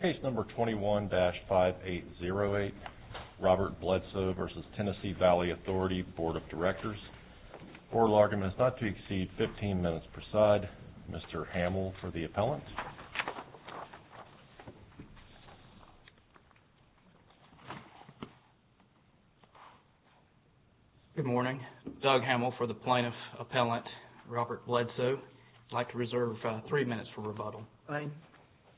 Page number 21-5808, Robert Bledsoe v. Tennessee Valley Authority Board of Directors. Oral argument is not to exceed 15 minutes per side. Mr. Hamill for the appellant. Good morning. Doug Hamill for the plaintiff appellant, Robert Bledsoe. I'd like to reserve three minutes for rebuttal. Fine.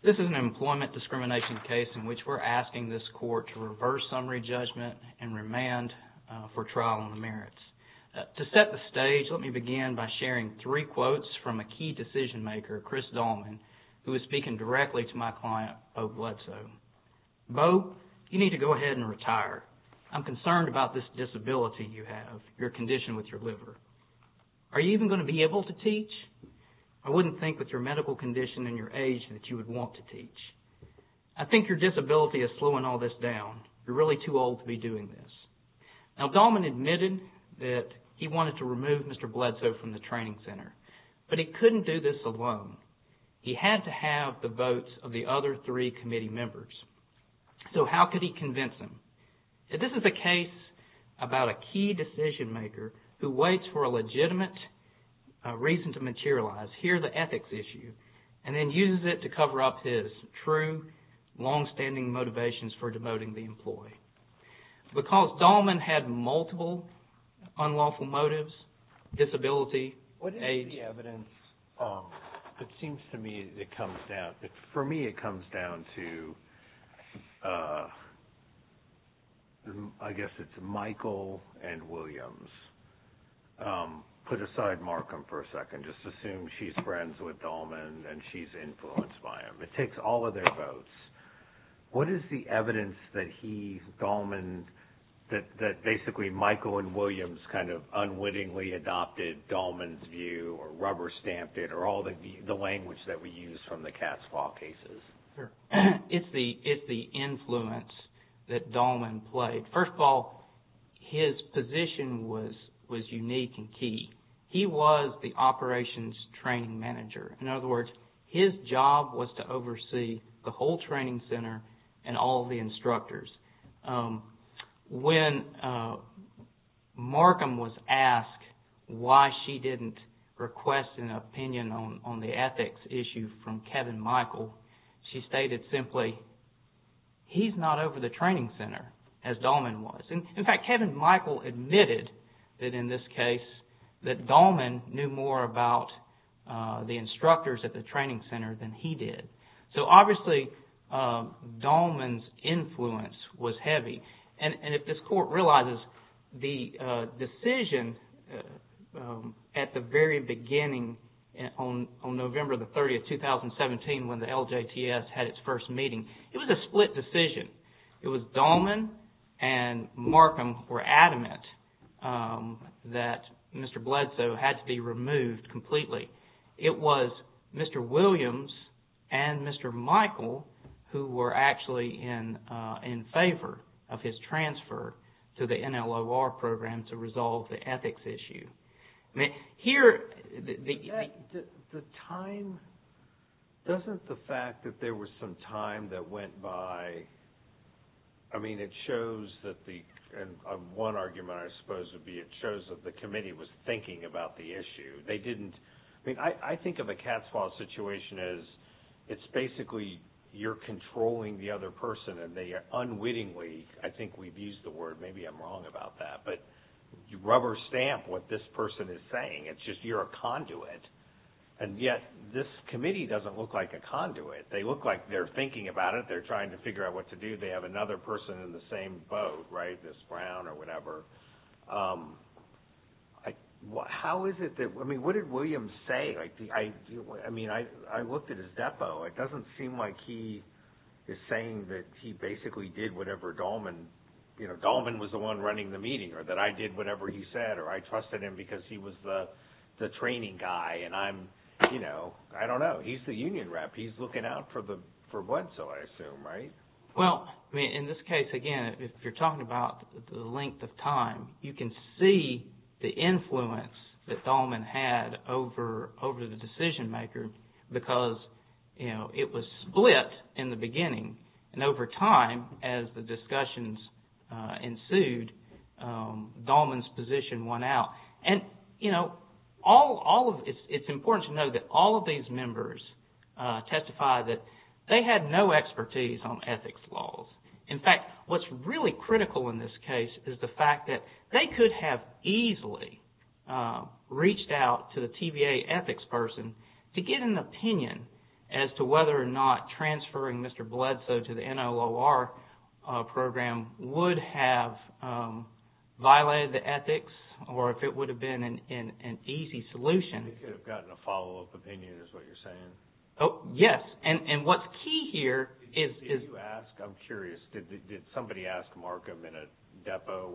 This is an employment discrimination case in which we're asking this court to reverse summary judgment and remand for trial on the merits. To set the stage, let me begin by sharing three quotes from a key decision maker, Chris Dolman, who is speaking directly to my client, Bo Bledsoe. Bo, you need to go ahead and retire. I'm concerned about this disability you have, your condition with your liver. I wouldn't think with your medical condition and your age that you would want to teach. I think your disability is slowing all this down. You're really too old to be doing this. Now, Dolman admitted that he wanted to remove Mr. Bledsoe from the training center, but he couldn't do this alone. He had to have the votes of the other three committee members. So how could he convince him? This is a case about a key decision maker who waits for a legitimate reason to materialize, here the ethics issue, and then uses it to cover up his true longstanding motivations for demoting the employee. Because Dolman had multiple unlawful motives, disability, age. What is the evidence? It seems to me it comes down, for me it comes down to, I guess it's Michael and Williams. Put aside Markham for a second. Just assume she's friends with Dolman and she's influenced by him. It takes all of their votes. What is the evidence that he, Dolman, that basically Michael and Williams kind of unwittingly adopted Dolman's view or rubber-stamped it or all the language that we use from the Cass Law cases? It's the influence that Dolman played. First of all, his position was unique and key. He was the operations training manager. In other words, his job was to oversee the whole training center and all the instructors. When Markham was asked why she didn't request an opinion on the ethics issue from Kevin Michael, she stated simply, he's not over the training center as Dolman was. In fact, Kevin Michael admitted that in this case that Dolman knew more about the instructors at the training center than he did. Obviously, Dolman's influence was heavy. If this court realizes the decision at the very beginning on November 30, 2017, when the LJTS had its first meeting, it was a split decision. It was Dolman and Markham who were adamant that Mr. Bledsoe had to be removed completely. It was Mr. Williams and Mr. Michael who were actually in favor of his transfer to the NLOR program to resolve the ethics issue. Here, the time, doesn't the fact that there was some time that went by, I mean, it shows that the, one argument I suppose would be it shows that the committee was thinking about the issue. They didn't, I mean, I think of a cat's paw situation as it's basically you're controlling the other person and they unwittingly, I think we've used the word, maybe I'm wrong about that, but you rubber stamp what this person is saying. It's just you're a conduit. And yet, this committee doesn't look like a conduit. They look like they're thinking about it. They're trying to figure out what to do. They have another person in the same boat, right, this Brown or whatever. How is it that, I mean, what did Williams say? I mean, I looked at his depot. That I did whatever he said or I trusted him because he was the training guy and I'm, you know, I don't know. He's the union rep. He's looking out for what, so I assume, right? Well, I mean, in this case, again, if you're talking about the length of time, you can see the influence that Dahlman had over the decision maker because, you know, it was split in the beginning. And over time, as the discussions ensued, Dahlman's position won out. And, you know, it's important to know that all of these members testify that they had no expertise on ethics laws. In fact, what's really critical in this case is the fact that they could have easily reached out to the TVA ethics person to get an opinion as to whether or not transferring Mr. Bledsoe to the NLOR program would have violated the ethics or if it would have been an easy solution. They could have gotten a follow-up opinion is what you're saying? Yes. And what's key here is… Did you ask? I'm curious. Did somebody ask Markham in a depot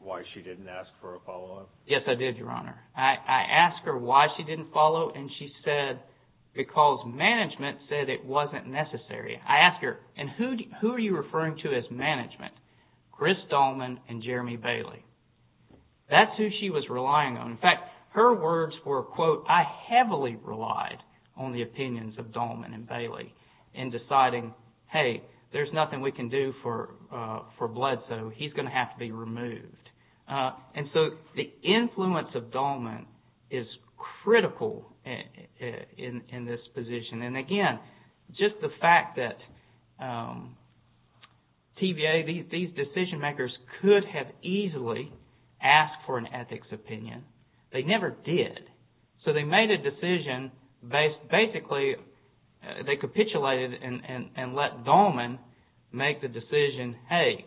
why she didn't ask for a follow-up? Yes, I did, Your Honor. I asked her why she didn't follow and she said because management said it wasn't necessary. I asked her, and who are you referring to as management? Chris Dahlman and Jeremy Bailey. That's who she was relying on. In fact, her words were, quote, I heavily relied on the opinions of Dahlman and Bailey in deciding, hey, there's nothing we can do for Bledsoe. He's going to have to be removed. And so the influence of Dahlman is critical in this position. And, again, just the fact that TVA, these decision-makers could have easily asked for an ethics opinion. They never did. So they made a decision. Basically, they capitulated and let Dahlman make the decision, hey,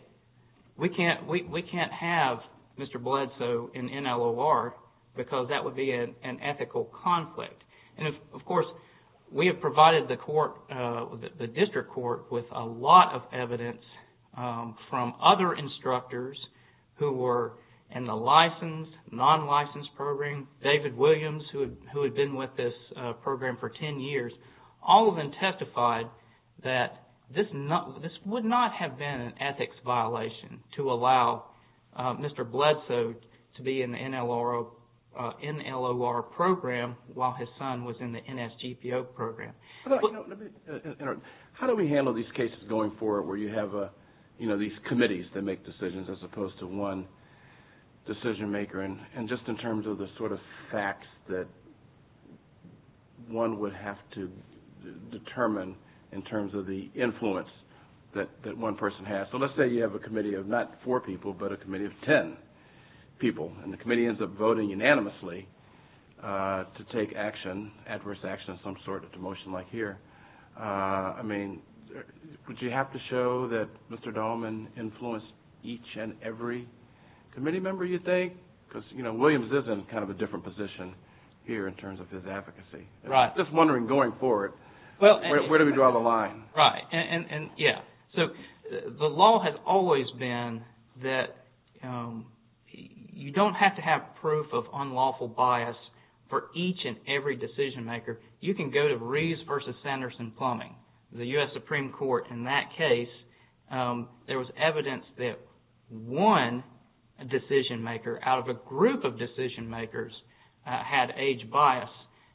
we can't have Mr. Bledsoe in NLOR because that would be an ethical conflict. And, of course, we have provided the court, the district court, with a lot of evidence from other instructors who were in the licensed, non-licensed program. David Williams, who had been with this program for 10 years, all of them testified that this would not have been an ethics violation to allow Mr. Bledsoe to be in the NLOR program while his son was in the NSGPO program. How do we handle these cases going forward where you have, you know, these committees that make decisions as opposed to one decision-maker? And just in terms of the sort of facts that one would have to determine in terms of the influence that one person has. So let's say you have a committee of not four people, but a committee of 10 people, and the committee ends up voting unanimously to take action, adverse action of some sort, a motion like here. I mean, would you have to show that Mr. Dahlman influenced each and every committee member, you think? Because, you know, Williams is in kind of a different position here in terms of his advocacy. Right. I'm just wondering, going forward, where do we draw the line? Right. And, yeah, so the law has always been that you don't have to have proof of unlawful bias for each and every decision-maker. You can go to Reeves v. Sanderson Plumbing, the U.S. Supreme Court. In that case, there was evidence that one decision-maker out of a group of decision-makers had age bias,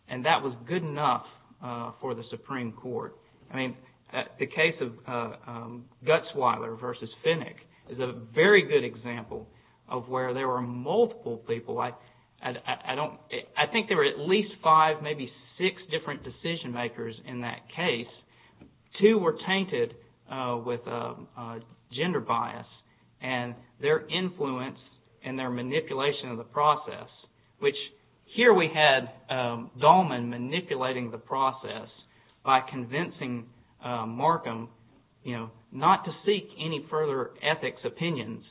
and that was good enough for the Supreme Court. I mean, the case of Gutzweiler v. Finnick is a very good example of where there were multiple people. I don't – I think there were at least five, maybe six different decision-makers in that case. Two were tainted with gender bias and their influence and their manipulation of the process, which here we had Dahlman manipulating the process by convincing Markham, you know, not to seek any further ethics opinions,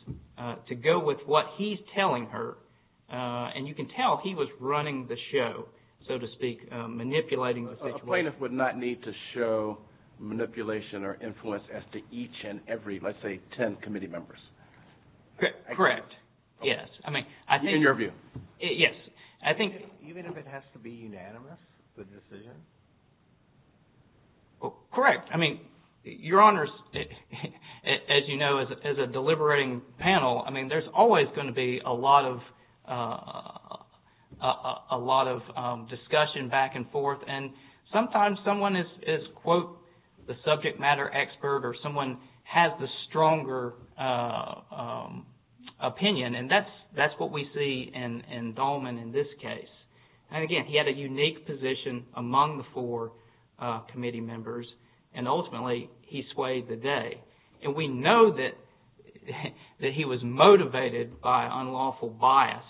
to go with what he's telling her. And you can tell he was running the show, so to speak, manipulating the situation. A plaintiff would not need to show manipulation or influence as to each and every, let's say, ten committee members. Correct. Yes. In your view? Yes. I think – Even if it has to be unanimous, the decision? Correct. I mean, Your Honors, as you know, as a deliberating panel, I mean, there's always going to be a lot of discussion back and forth, and sometimes someone is, quote, the subject matter expert or someone has the stronger opinion, and that's what we see in Dahlman in this case. And again, he had a unique position among the four committee members, and ultimately he swayed the day. And we know that he was motivated by unlawful bias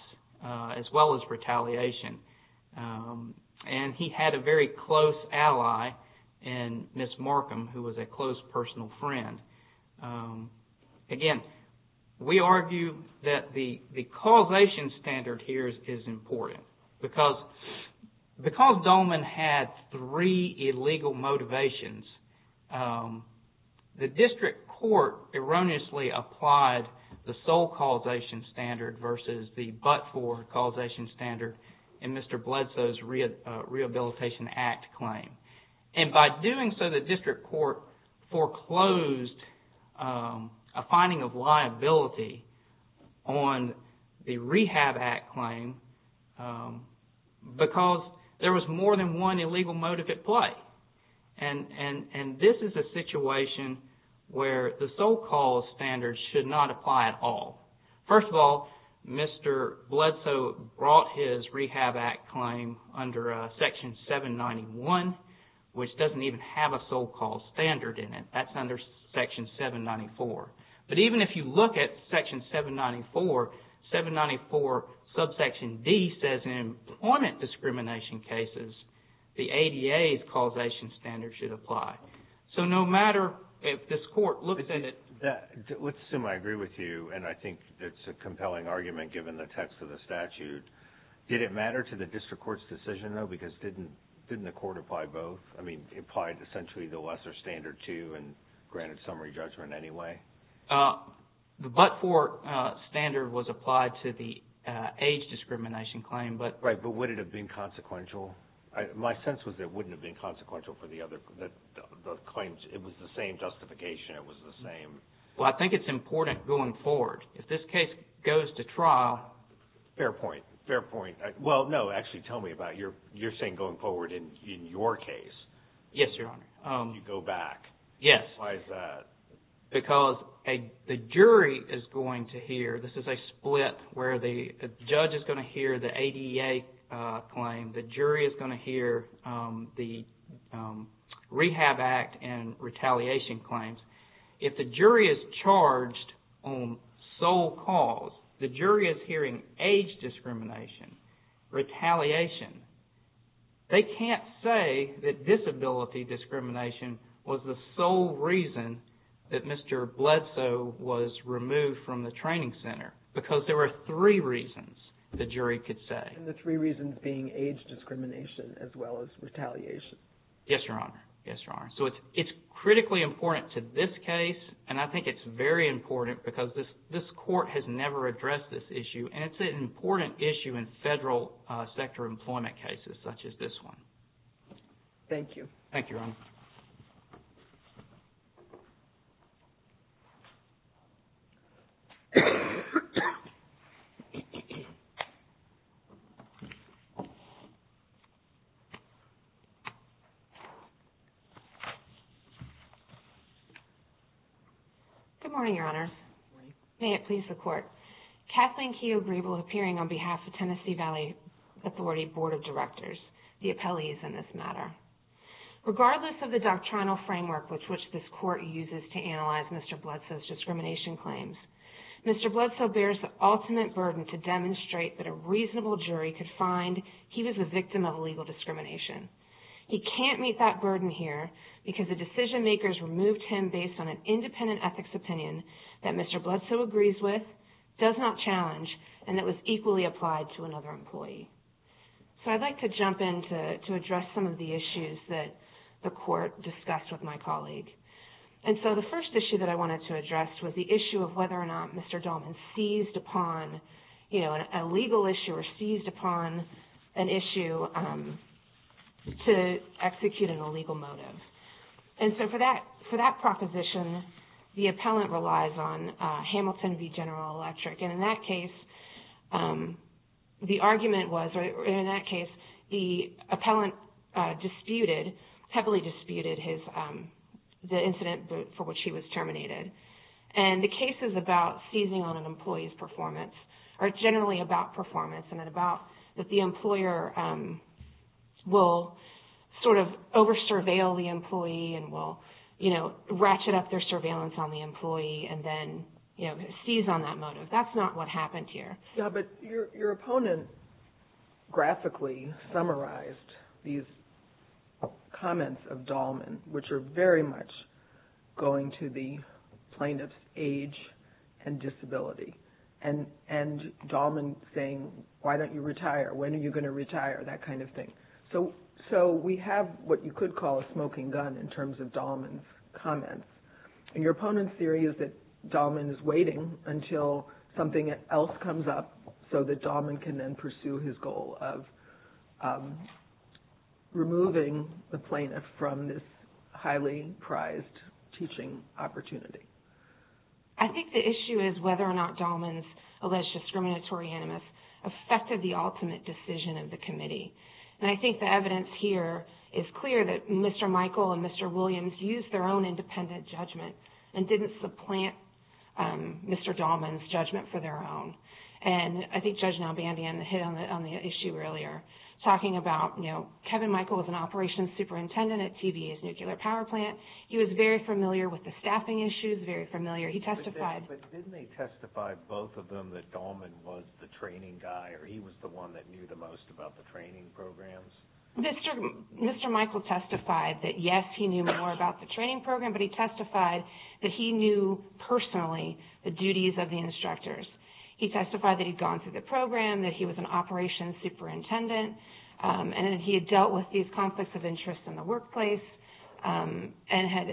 as well as retaliation, and he had a very close ally in Ms. Markham, who was a close personal friend. Again, we argue that the causation standard here is important. Because Dahlman had three illegal motivations, the district court erroneously applied the sole causation standard versus the but-for causation standard in Mr. Bledsoe's Rehabilitation Act claim. And by doing so, the district court foreclosed a finding of liability on the Rehab Act claim because there was more than one illegal motive at play. And this is a situation where the sole cause standard should not apply at all. First of all, Mr. Bledsoe brought his Rehab Act claim under Section 791, which doesn't even have a sole cause standard in it. That's under Section 794. But even if you look at Section 794, 794 subsection D says in employment discrimination cases, the ADA's causation standard should apply. So no matter if this court looks at it. Let's assume I agree with you, and I think it's a compelling argument given the text of the statute. Did it matter to the district court's decision, though? Because didn't the court apply both? I mean, it applied essentially the lesser standard, too, and granted summary judgment anyway. The but-for standard was applied to the age discrimination claim. Right, but would it have been consequential? My sense was it wouldn't have been consequential for the other claims. It was the same justification. It was the same. Well, I think it's important going forward. If this case goes to trial. Fair point. Fair point. Well, no, actually tell me about your saying going forward in your case. Yes, Your Honor. You go back. Yes. Why is that? Because the jury is going to hear. This is a split where the judge is going to hear the ADA claim. The jury is going to hear the Rehab Act and retaliation claims. If the jury is charged on sole cause, the jury is hearing age discrimination, retaliation. They can't say that disability discrimination was the sole reason that Mr. Bledsoe was removed from the training center because there were three reasons the jury could say. And the three reasons being age discrimination as well as retaliation. Yes, Your Honor. Yes, Your Honor. So it's critically important to this case and I think it's very important because this court has never addressed this issue and it's an important issue in federal sector employment cases such as this one. Thank you. Good morning, Your Honor. Good morning. May it please the court. Kathleen Keogh Grebel appearing on behalf of Tennessee Valley Authority Board of Directors, the appellees in this matter. Regardless of the doctrinal framework which this court uses to analyze Mr. Bledsoe's discrimination claims, Mr. Bledsoe bears the ultimate burden to demonstrate that a reasonable jury could find he was a victim of illegal discrimination. He can't meet that burden here. Because the decision makers removed him based on an independent ethics opinion that Mr. Bledsoe agrees with, does not challenge, and that was equally applied to another employee. So I'd like to jump in to address some of the issues that the court discussed with my colleague. And so the first issue that I wanted to address was the issue of whether or not Mr. Dolman seized upon, you know, a legal issue or seized upon an issue to execute an illegal motive. And so for that proposition, the appellant relies on Hamilton v. General Electric. And in that case, the argument was, or in that case, the appellant disputed, heavily disputed the incident for which he was terminated. And the cases about seizing on an employee's performance are generally about performance and about that the employer will sort of over-surveil the employee and will, you know, ratchet up their surveillance on the employee and then, you know, seize on that motive. That's not what happened here. Yeah, but your opponent graphically summarized these comments of Dolman, which are very much going to the plaintiff's age and disability. And Dolman saying, why don't you retire? When are you going to retire? That kind of thing. So we have what you could call a smoking gun in terms of Dolman's comments. And your opponent's theory is that Dolman is waiting until something else comes up so that Dolman can then pursue his goal of removing the plaintiff from this highly prized teaching opportunity. I think the issue is whether or not Dolman's alleged discriminatory animus affected the ultimate decision of the committee. And I think the evidence here is clear that Mr. Michael and Mr. Williams used their own independent judgment and didn't supplant Mr. Dolman's judgment for their own. And I think Judge Nalbandian hit on the issue earlier, talking about, you know, Kevin Michael was an operations superintendent at TVA's nuclear power plant. He was very familiar with the staffing issues, very familiar. But didn't they testify, both of them, that Dolman was the training guy or he was the one that knew the most about the training programs? Mr. Michael testified that, yes, he knew more about the training program, but he testified that he knew personally the duties of the instructors. He testified that he'd gone through the program, that he was an operations superintendent, and that he had dealt with these conflicts of interest in the workplace and had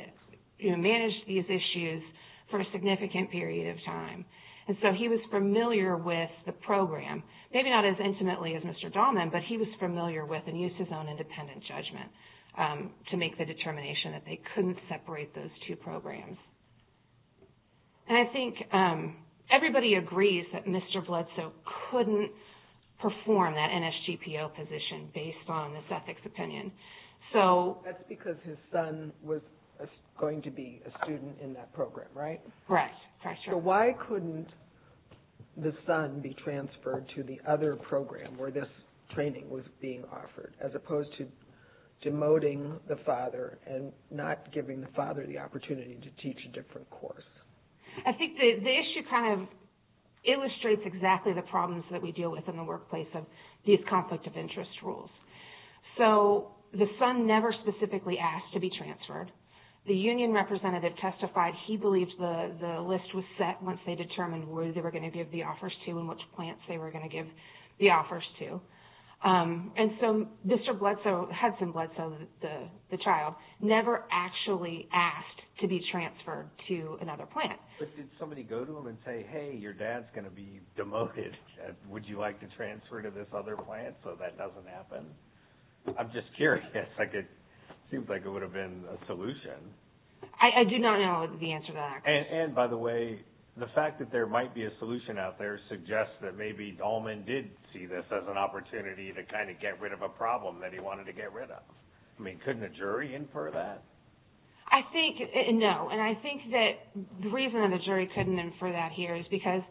managed these issues for several years. For a significant period of time. And so he was familiar with the program, maybe not as intimately as Mr. Dolman, but he was familiar with and used his own independent judgment to make the determination that they couldn't separate those two programs. And I think everybody agrees that Mr. Bledsoe couldn't perform that NSGPO position based on this ethics opinion. That's because his son was going to be a student in that program, right? Correct, that's right. So why couldn't the son be transferred to the other program where this training was being offered, as opposed to demoting the father and not giving the father the opportunity to teach a different course? I think the issue kind of illustrates exactly the problems that we deal with in the workplace of these conflict of interest rules. So the son never specifically asked to be transferred. The union representative testified he believed the list was set once they determined where they were going to give the offers to and which plants they were going to give the offers to. And so Mr. Bledsoe, Hudson Bledsoe, the child, never actually asked to be transferred to another plant. But did somebody go to him and say, hey, your dad's going to be demoted. I'm just curious. It seems like it would have been a solution. I do not know the answer to that. And by the way, the fact that there might be a solution out there suggests that maybe Dallman did see this as an opportunity to kind of get rid of a problem that he wanted to get rid of. I mean, couldn't a jury infer that? I think no. And I think that the reason that a jury couldn't infer that here is because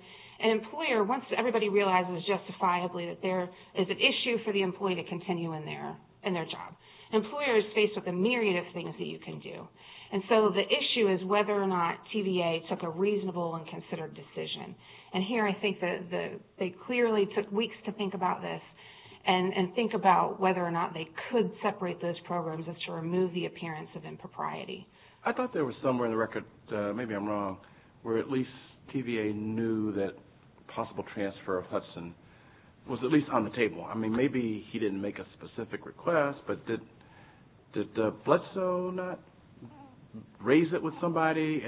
an employer, once everybody realizes justifiably that there is an issue for the employee to continue in their job, an employer is faced with a myriad of things that you can do. And so the issue is whether or not TVA took a reasonable and considered decision. And here I think that they clearly took weeks to think about this and think about whether or not they could separate those programs as to remove the appearance of impropriety. I thought there was somewhere in the record, maybe I'm wrong, where at least TVA knew that possible transfer of Hudson was at least on the table. I mean, maybe he didn't make a specific request, but did Bledsoe not raise it with somebody?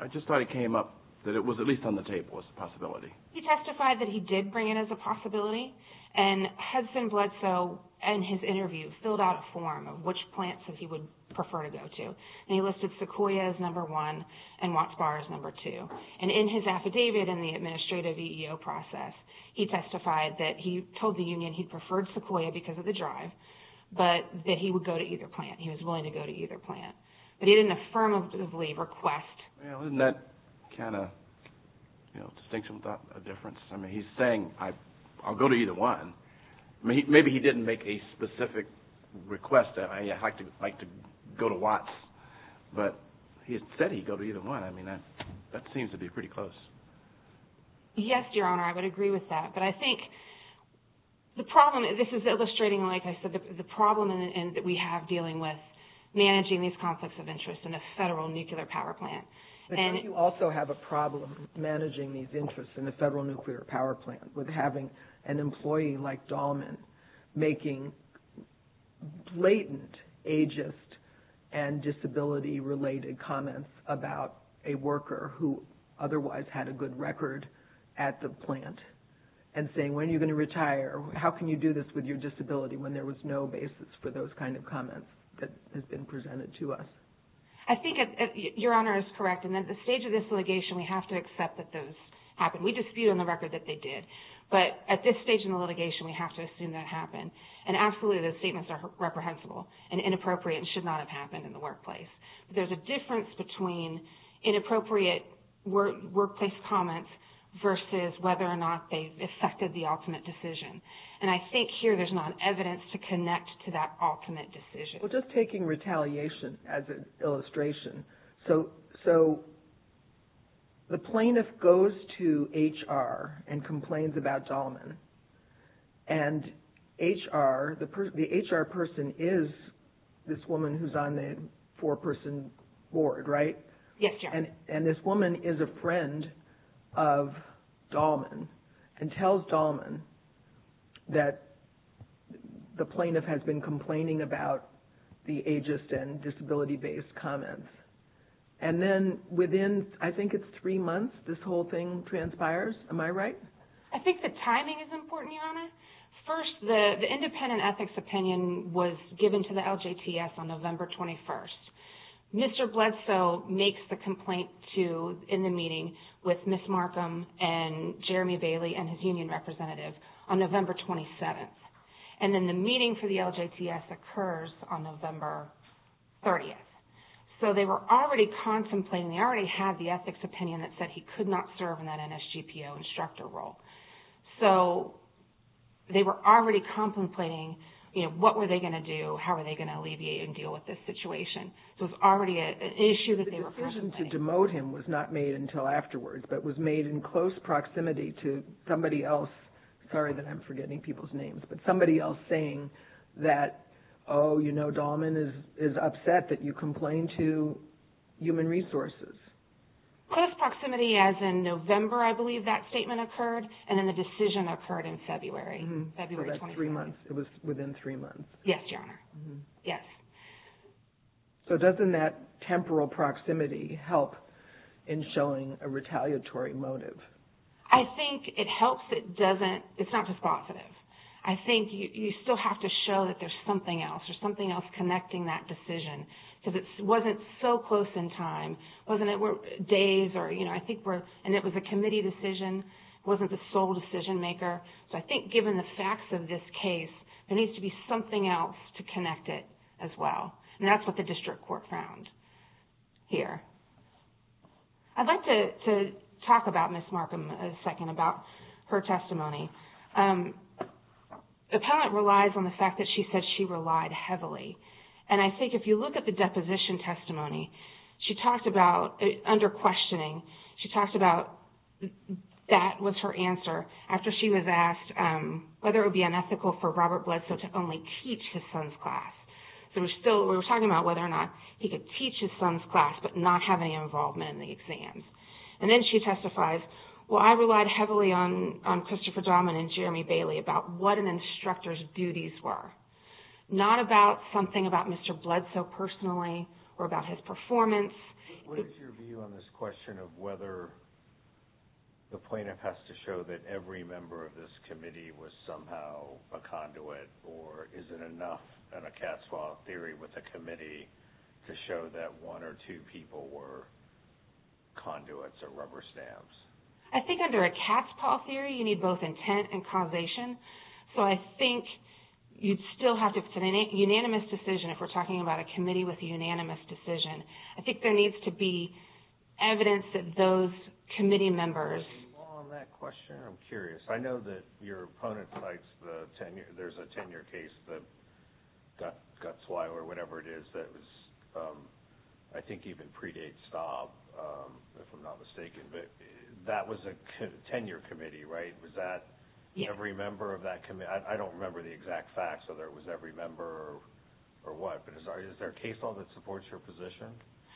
I just thought it came up that it was at least on the table as a possibility. He testified that he did bring it as a possibility, and Hudson Bledsoe in his interview filled out a form of which plants that he would prefer to go to. And he listed Sequoia as number one and Watts Bar as number two. And in his affidavit in the administrative EEO process, he testified that he told the union he preferred Sequoia because of the drive, but that he would go to either plant. He was willing to go to either plant, but he didn't affirmatively request. Isn't that kind of a distinction without a difference? I mean, he's saying I'll go to either one. Maybe he didn't make a specific request that I'd like to go to Watts, but he said he'd go to either one. I mean, that seems to be pretty close. Yes, Your Honor, I would agree with that. But I think the problem, and this is illustrating, like I said, the problem that we have dealing with managing these conflicts of interest in a federal nuclear power plant. But don't you also have a problem managing these interests in a federal nuclear power plant with having an employee like Dahlman making blatant ageist and disability-related comments about a worker who otherwise had nothing to do with it? I mean, how can you put a good record at the plant and say, when are you going to retire? How can you do this with your disability when there was no basis for those kinds of comments that have been presented to us? I think Your Honor is correct. And at the stage of this litigation, we have to accept that those happened. We dispute on the record that they did, but at this stage in the litigation, we have to assume that happened. And absolutely, those statements are reprehensible and inappropriate and should not have happened in the workplace. But there's a difference between inappropriate workplace comments versus whether or not they affected the ultimate decision. And I think here there's not evidence to connect to that ultimate decision. Well, just taking retaliation as an illustration. So the plaintiff goes to HR and complains about Dahlman. And HR – the HR person is this woman who's on the four-person board, right? Yes, Your Honor. And this woman is a friend of Dahlman and tells Dahlman that the plaintiff has been complaining about the ageist and disability-based comments. And then within, I think it's three months, this whole thing transpires. Am I right? I think the timing is important, Your Honor. First, the independent ethics opinion was given to the LJTS on November 21st. Mr. Bledsoe makes the complaint to – in the meeting with Ms. Markham and Jeremy Bailey and his union representative on November 27th. And then the meeting for the LJTS occurs on November 30th. So they were already contemplating – they already had the ethics opinion that said he could not serve in that NSGPO instructor role. So they were already contemplating, you know, what were they going to do? How were they going to alleviate and deal with this situation? So it was already an issue that they were contemplating. The decision to demote him was not made until afterwards, but was made in close proximity to somebody else – sorry that I'm forgetting people's names – but somebody else saying that, oh, you know, Dahlman is upset that you complained to Human Resources. Close proximity as in November, I believe that statement occurred, and then the decision occurred in February, February 21st. So that's three months. It was within three months. Yes, Your Honor. Yes. So doesn't that temporal proximity help in showing a retaliatory motive? I think it helps. It doesn't – it's not just positive. I think you still have to show that there's something else. There's something else connecting that decision because it wasn't so close in time. It wasn't – it were days or, you know, I think we're – and it was a committee decision. It wasn't the sole decision maker. So I think given the facts of this case, there needs to be something else to connect it as well. And that's what the district court found here. I'd like to talk about Ms. Markham a second, about her testimony. Appellant relies on the fact that she said she relied heavily. And I think if you look at the deposition testimony, she talked about – under questioning, she talked about that was her answer after she was asked whether it would be unethical for Robert Bledsoe to only teach his son's class. So we're still – we were talking about whether or not he could teach his son's class but not have any involvement in the exams. And then she testifies, well, I relied heavily on Christopher Dahman and Jeremy Bailey about what an instructor's duties were, not about something about Mr. Bledsoe personally or about his performance. What is your view on this question of whether the plaintiff has to show that every member of this committee was somehow a conduit or is it enough in a cat's paw theory with a committee to show that one or two people were conduits or rubber stamps? I think under a cat's paw theory, you need both intent and causation. So I think you'd still have to – it's a unanimous decision if we're talking about a committee with a unanimous decision. I think there needs to be evidence that those committee members – Any more on that question? I'm curious. I know that your opponent cites the tenure – there's a tenure case that Gutzweiler, whatever it is, that was – I think even predates Staub, if I'm not mistaken. But that was a tenure committee, right? Was that every member of that committee? I don't remember the exact facts, whether it was every member or what. But is there a case law that supports your position?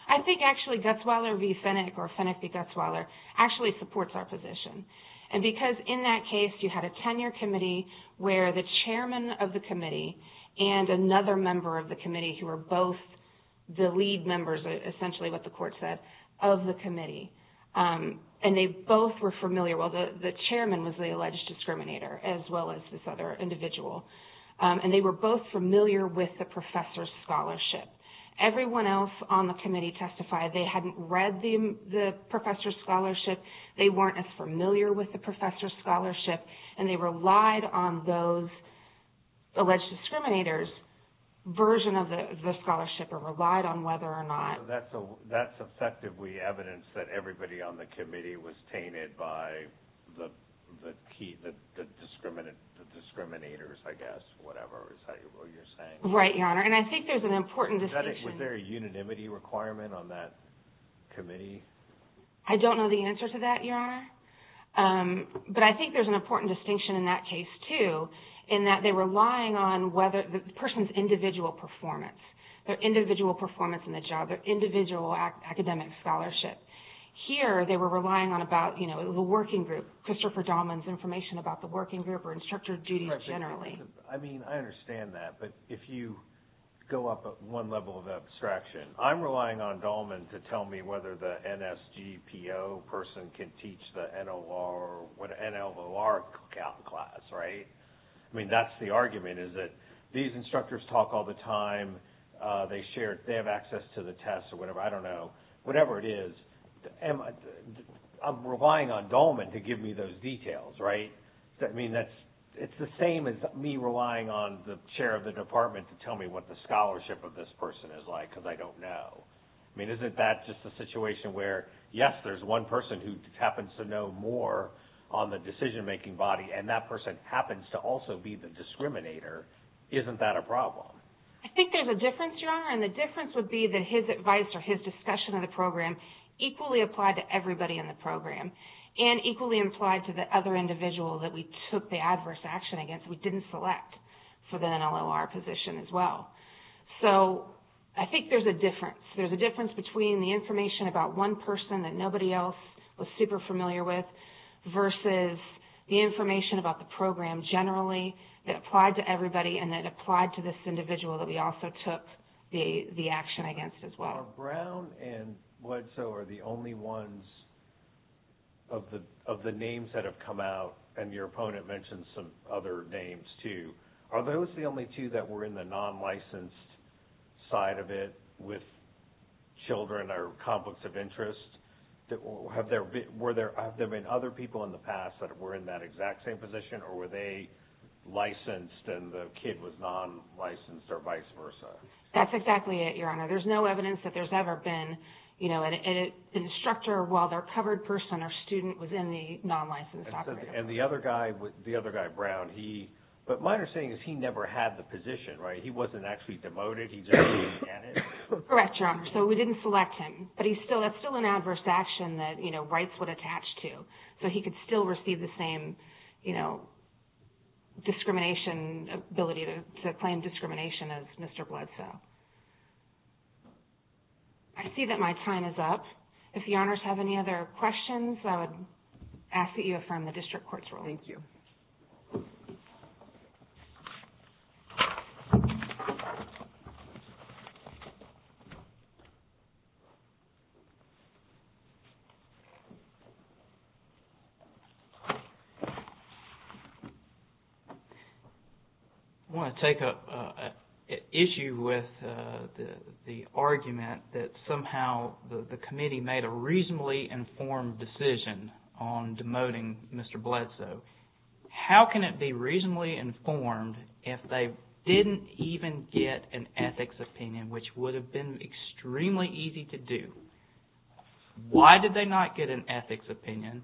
I think actually Gutzweiler v. Fennick or Fennick v. Gutzweiler actually supports our position. And because in that case, you had a tenure committee where the chairman of the committee and another member of the committee who were both the lead members, essentially what the court said, of the committee. And they both were familiar – well, the chairman was the alleged discriminator as well as this other individual. Everyone else on the committee testified. They hadn't read the professor's scholarship. They weren't as familiar with the professor's scholarship. And they relied on those alleged discriminators' version of the scholarship or relied on whether or not – So that's effectively evidence that everybody on the committee was tainted by the key – the discriminators, I guess, whatever you're saying. Right, Your Honor. And I think there's an important distinction – Was there a unanimity requirement on that committee? I don't know the answer to that, Your Honor. But I think there's an important distinction in that case, too, in that they were relying on whether the person's individual performance, their individual performance in the job, their individual academic scholarship. Here, they were relying on about the working group, Christopher Dahlman's information about the working group or instructor duties generally. I mean, I understand that. But if you go up one level of abstraction, I'm relying on Dahlman to tell me whether the NSGPO person can teach the NLOR or NLOR class, right? I mean, that's the argument, is that these instructors talk all the time. They share – they have access to the tests or whatever. I don't know. Whatever it is, I'm relying on Dahlman to give me those details, right? I mean, that's – it's the same as me relying on the chair of the department to tell me what the scholarship of this person is like because I don't know. I mean, isn't that just a situation where, yes, there's one person who happens to know more on the decision-making body, and that person happens to also be the discriminator? Isn't that a problem? I think there's a difference, Your Honor, and the difference would be that his advice or his discussion of the program equally applied to everybody in the program and equally applied to the other individual that we took the adverse action against. We didn't select for the NLOR position as well. So I think there's a difference. There's a difference between the information about one person that nobody else was super familiar with versus the information about the program generally that applied to everybody and that applied to this individual that we also took the action against as well. So are Brown and Bledsoe are the only ones of the names that have come out? And your opponent mentioned some other names too. Are those the only two that were in the non-licensed side of it with children or conflicts of interest? Have there been other people in the past that were in that exact same position, or were they licensed and the kid was non-licensed or vice versa? That's exactly it, Your Honor. There's no evidence that there's ever been an instructor while their covered person or student was in the non-licensed operator. And the other guy, Brown, he – but my understanding is he never had the position, right? He wasn't actually demoted. He just didn't get it. Correct, Your Honor. So we didn't select him, but that's still an adverse action that rights would attach to. So he could still receive the same, you know, discrimination – ability to claim discrimination as Mr. Bledsoe. I see that my time is up. If the Honors have any other questions, I would ask that you affirm the district court's ruling. Thank you. I want to take up an issue with the argument that somehow the committee made a reasonably informed decision on demoting Mr. Bledsoe. How can it be reasonably informed if they didn't even get an ethics opinion, which would have been extremely easy to do? Why did they not get an ethics opinion,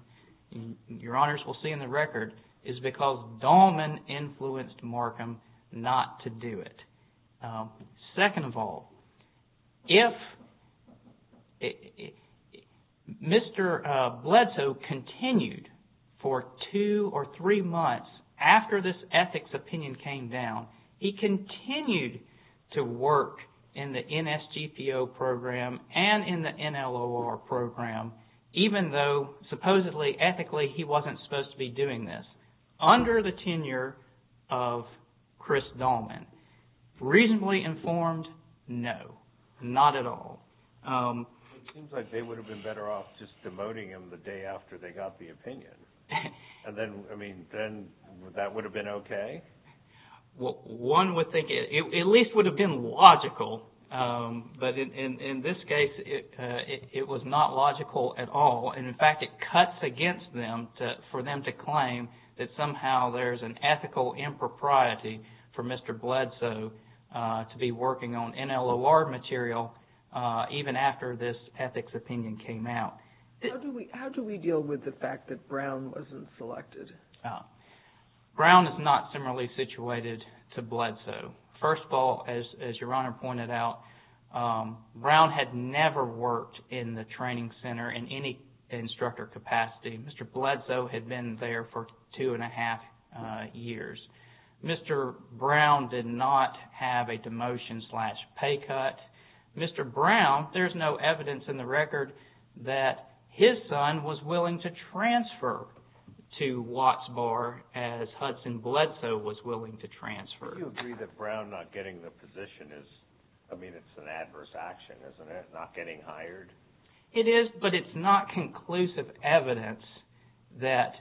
Your Honors will see in the record, is because Dahlman influenced Markham not to do it. Even though, supposedly, ethically, he wasn't supposed to be doing this. Under the tenure of Chris Dahlman. Reasonably informed? No. Not at all. It seems like they would have been better off just demoting him the day after they got the opinion. And then, I mean, then that would have been okay? Well, one would think it at least would have been logical. But in this case, it was not logical at all. And, in fact, it cuts against them for them to claim that somehow there's an ethical impropriety for Mr. Bledsoe to be working on NLOR material even after this ethics opinion came out. How do we deal with the fact that Brown wasn't selected? Brown is not similarly situated to Bledsoe. First of all, as Your Honor pointed out, Brown had never worked in the training center in any instructor capacity. Mr. Bledsoe had been there for two and a half years. Mr. Brown did not have a demotion slash pay cut. Mr. Brown, there's no evidence in the record that his son was willing to transfer to Watts Bar as Hudson Bledsoe was willing to transfer. Do you agree that Brown not getting the position is, I mean, it's an adverse action, isn't it, not getting hired? It is, but it's not conclusive evidence that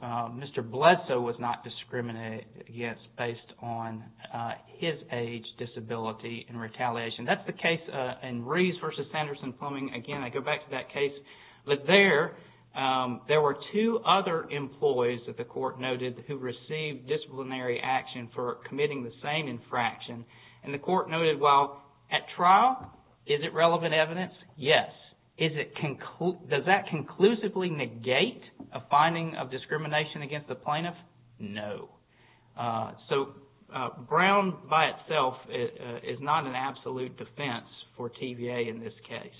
Mr. Bledsoe was not discriminated against based on his age, disability, and retaliation. That's the case in Rees v. Sanderson-Plumbing. Again, I go back to that case. But there, there were two other employees that the court noted who received disciplinary action for committing the same infraction. And the court noted, well, at trial, is it relevant evidence? Yes. Does that conclusively negate a finding of discrimination against the plaintiff? No. So Brown by itself is not an absolute defense for TVA in this case.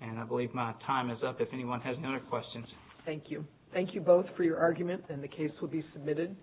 And I believe my time is up if anyone has any other questions. Thank you. Thank you both for your argument, and the case will be submitted.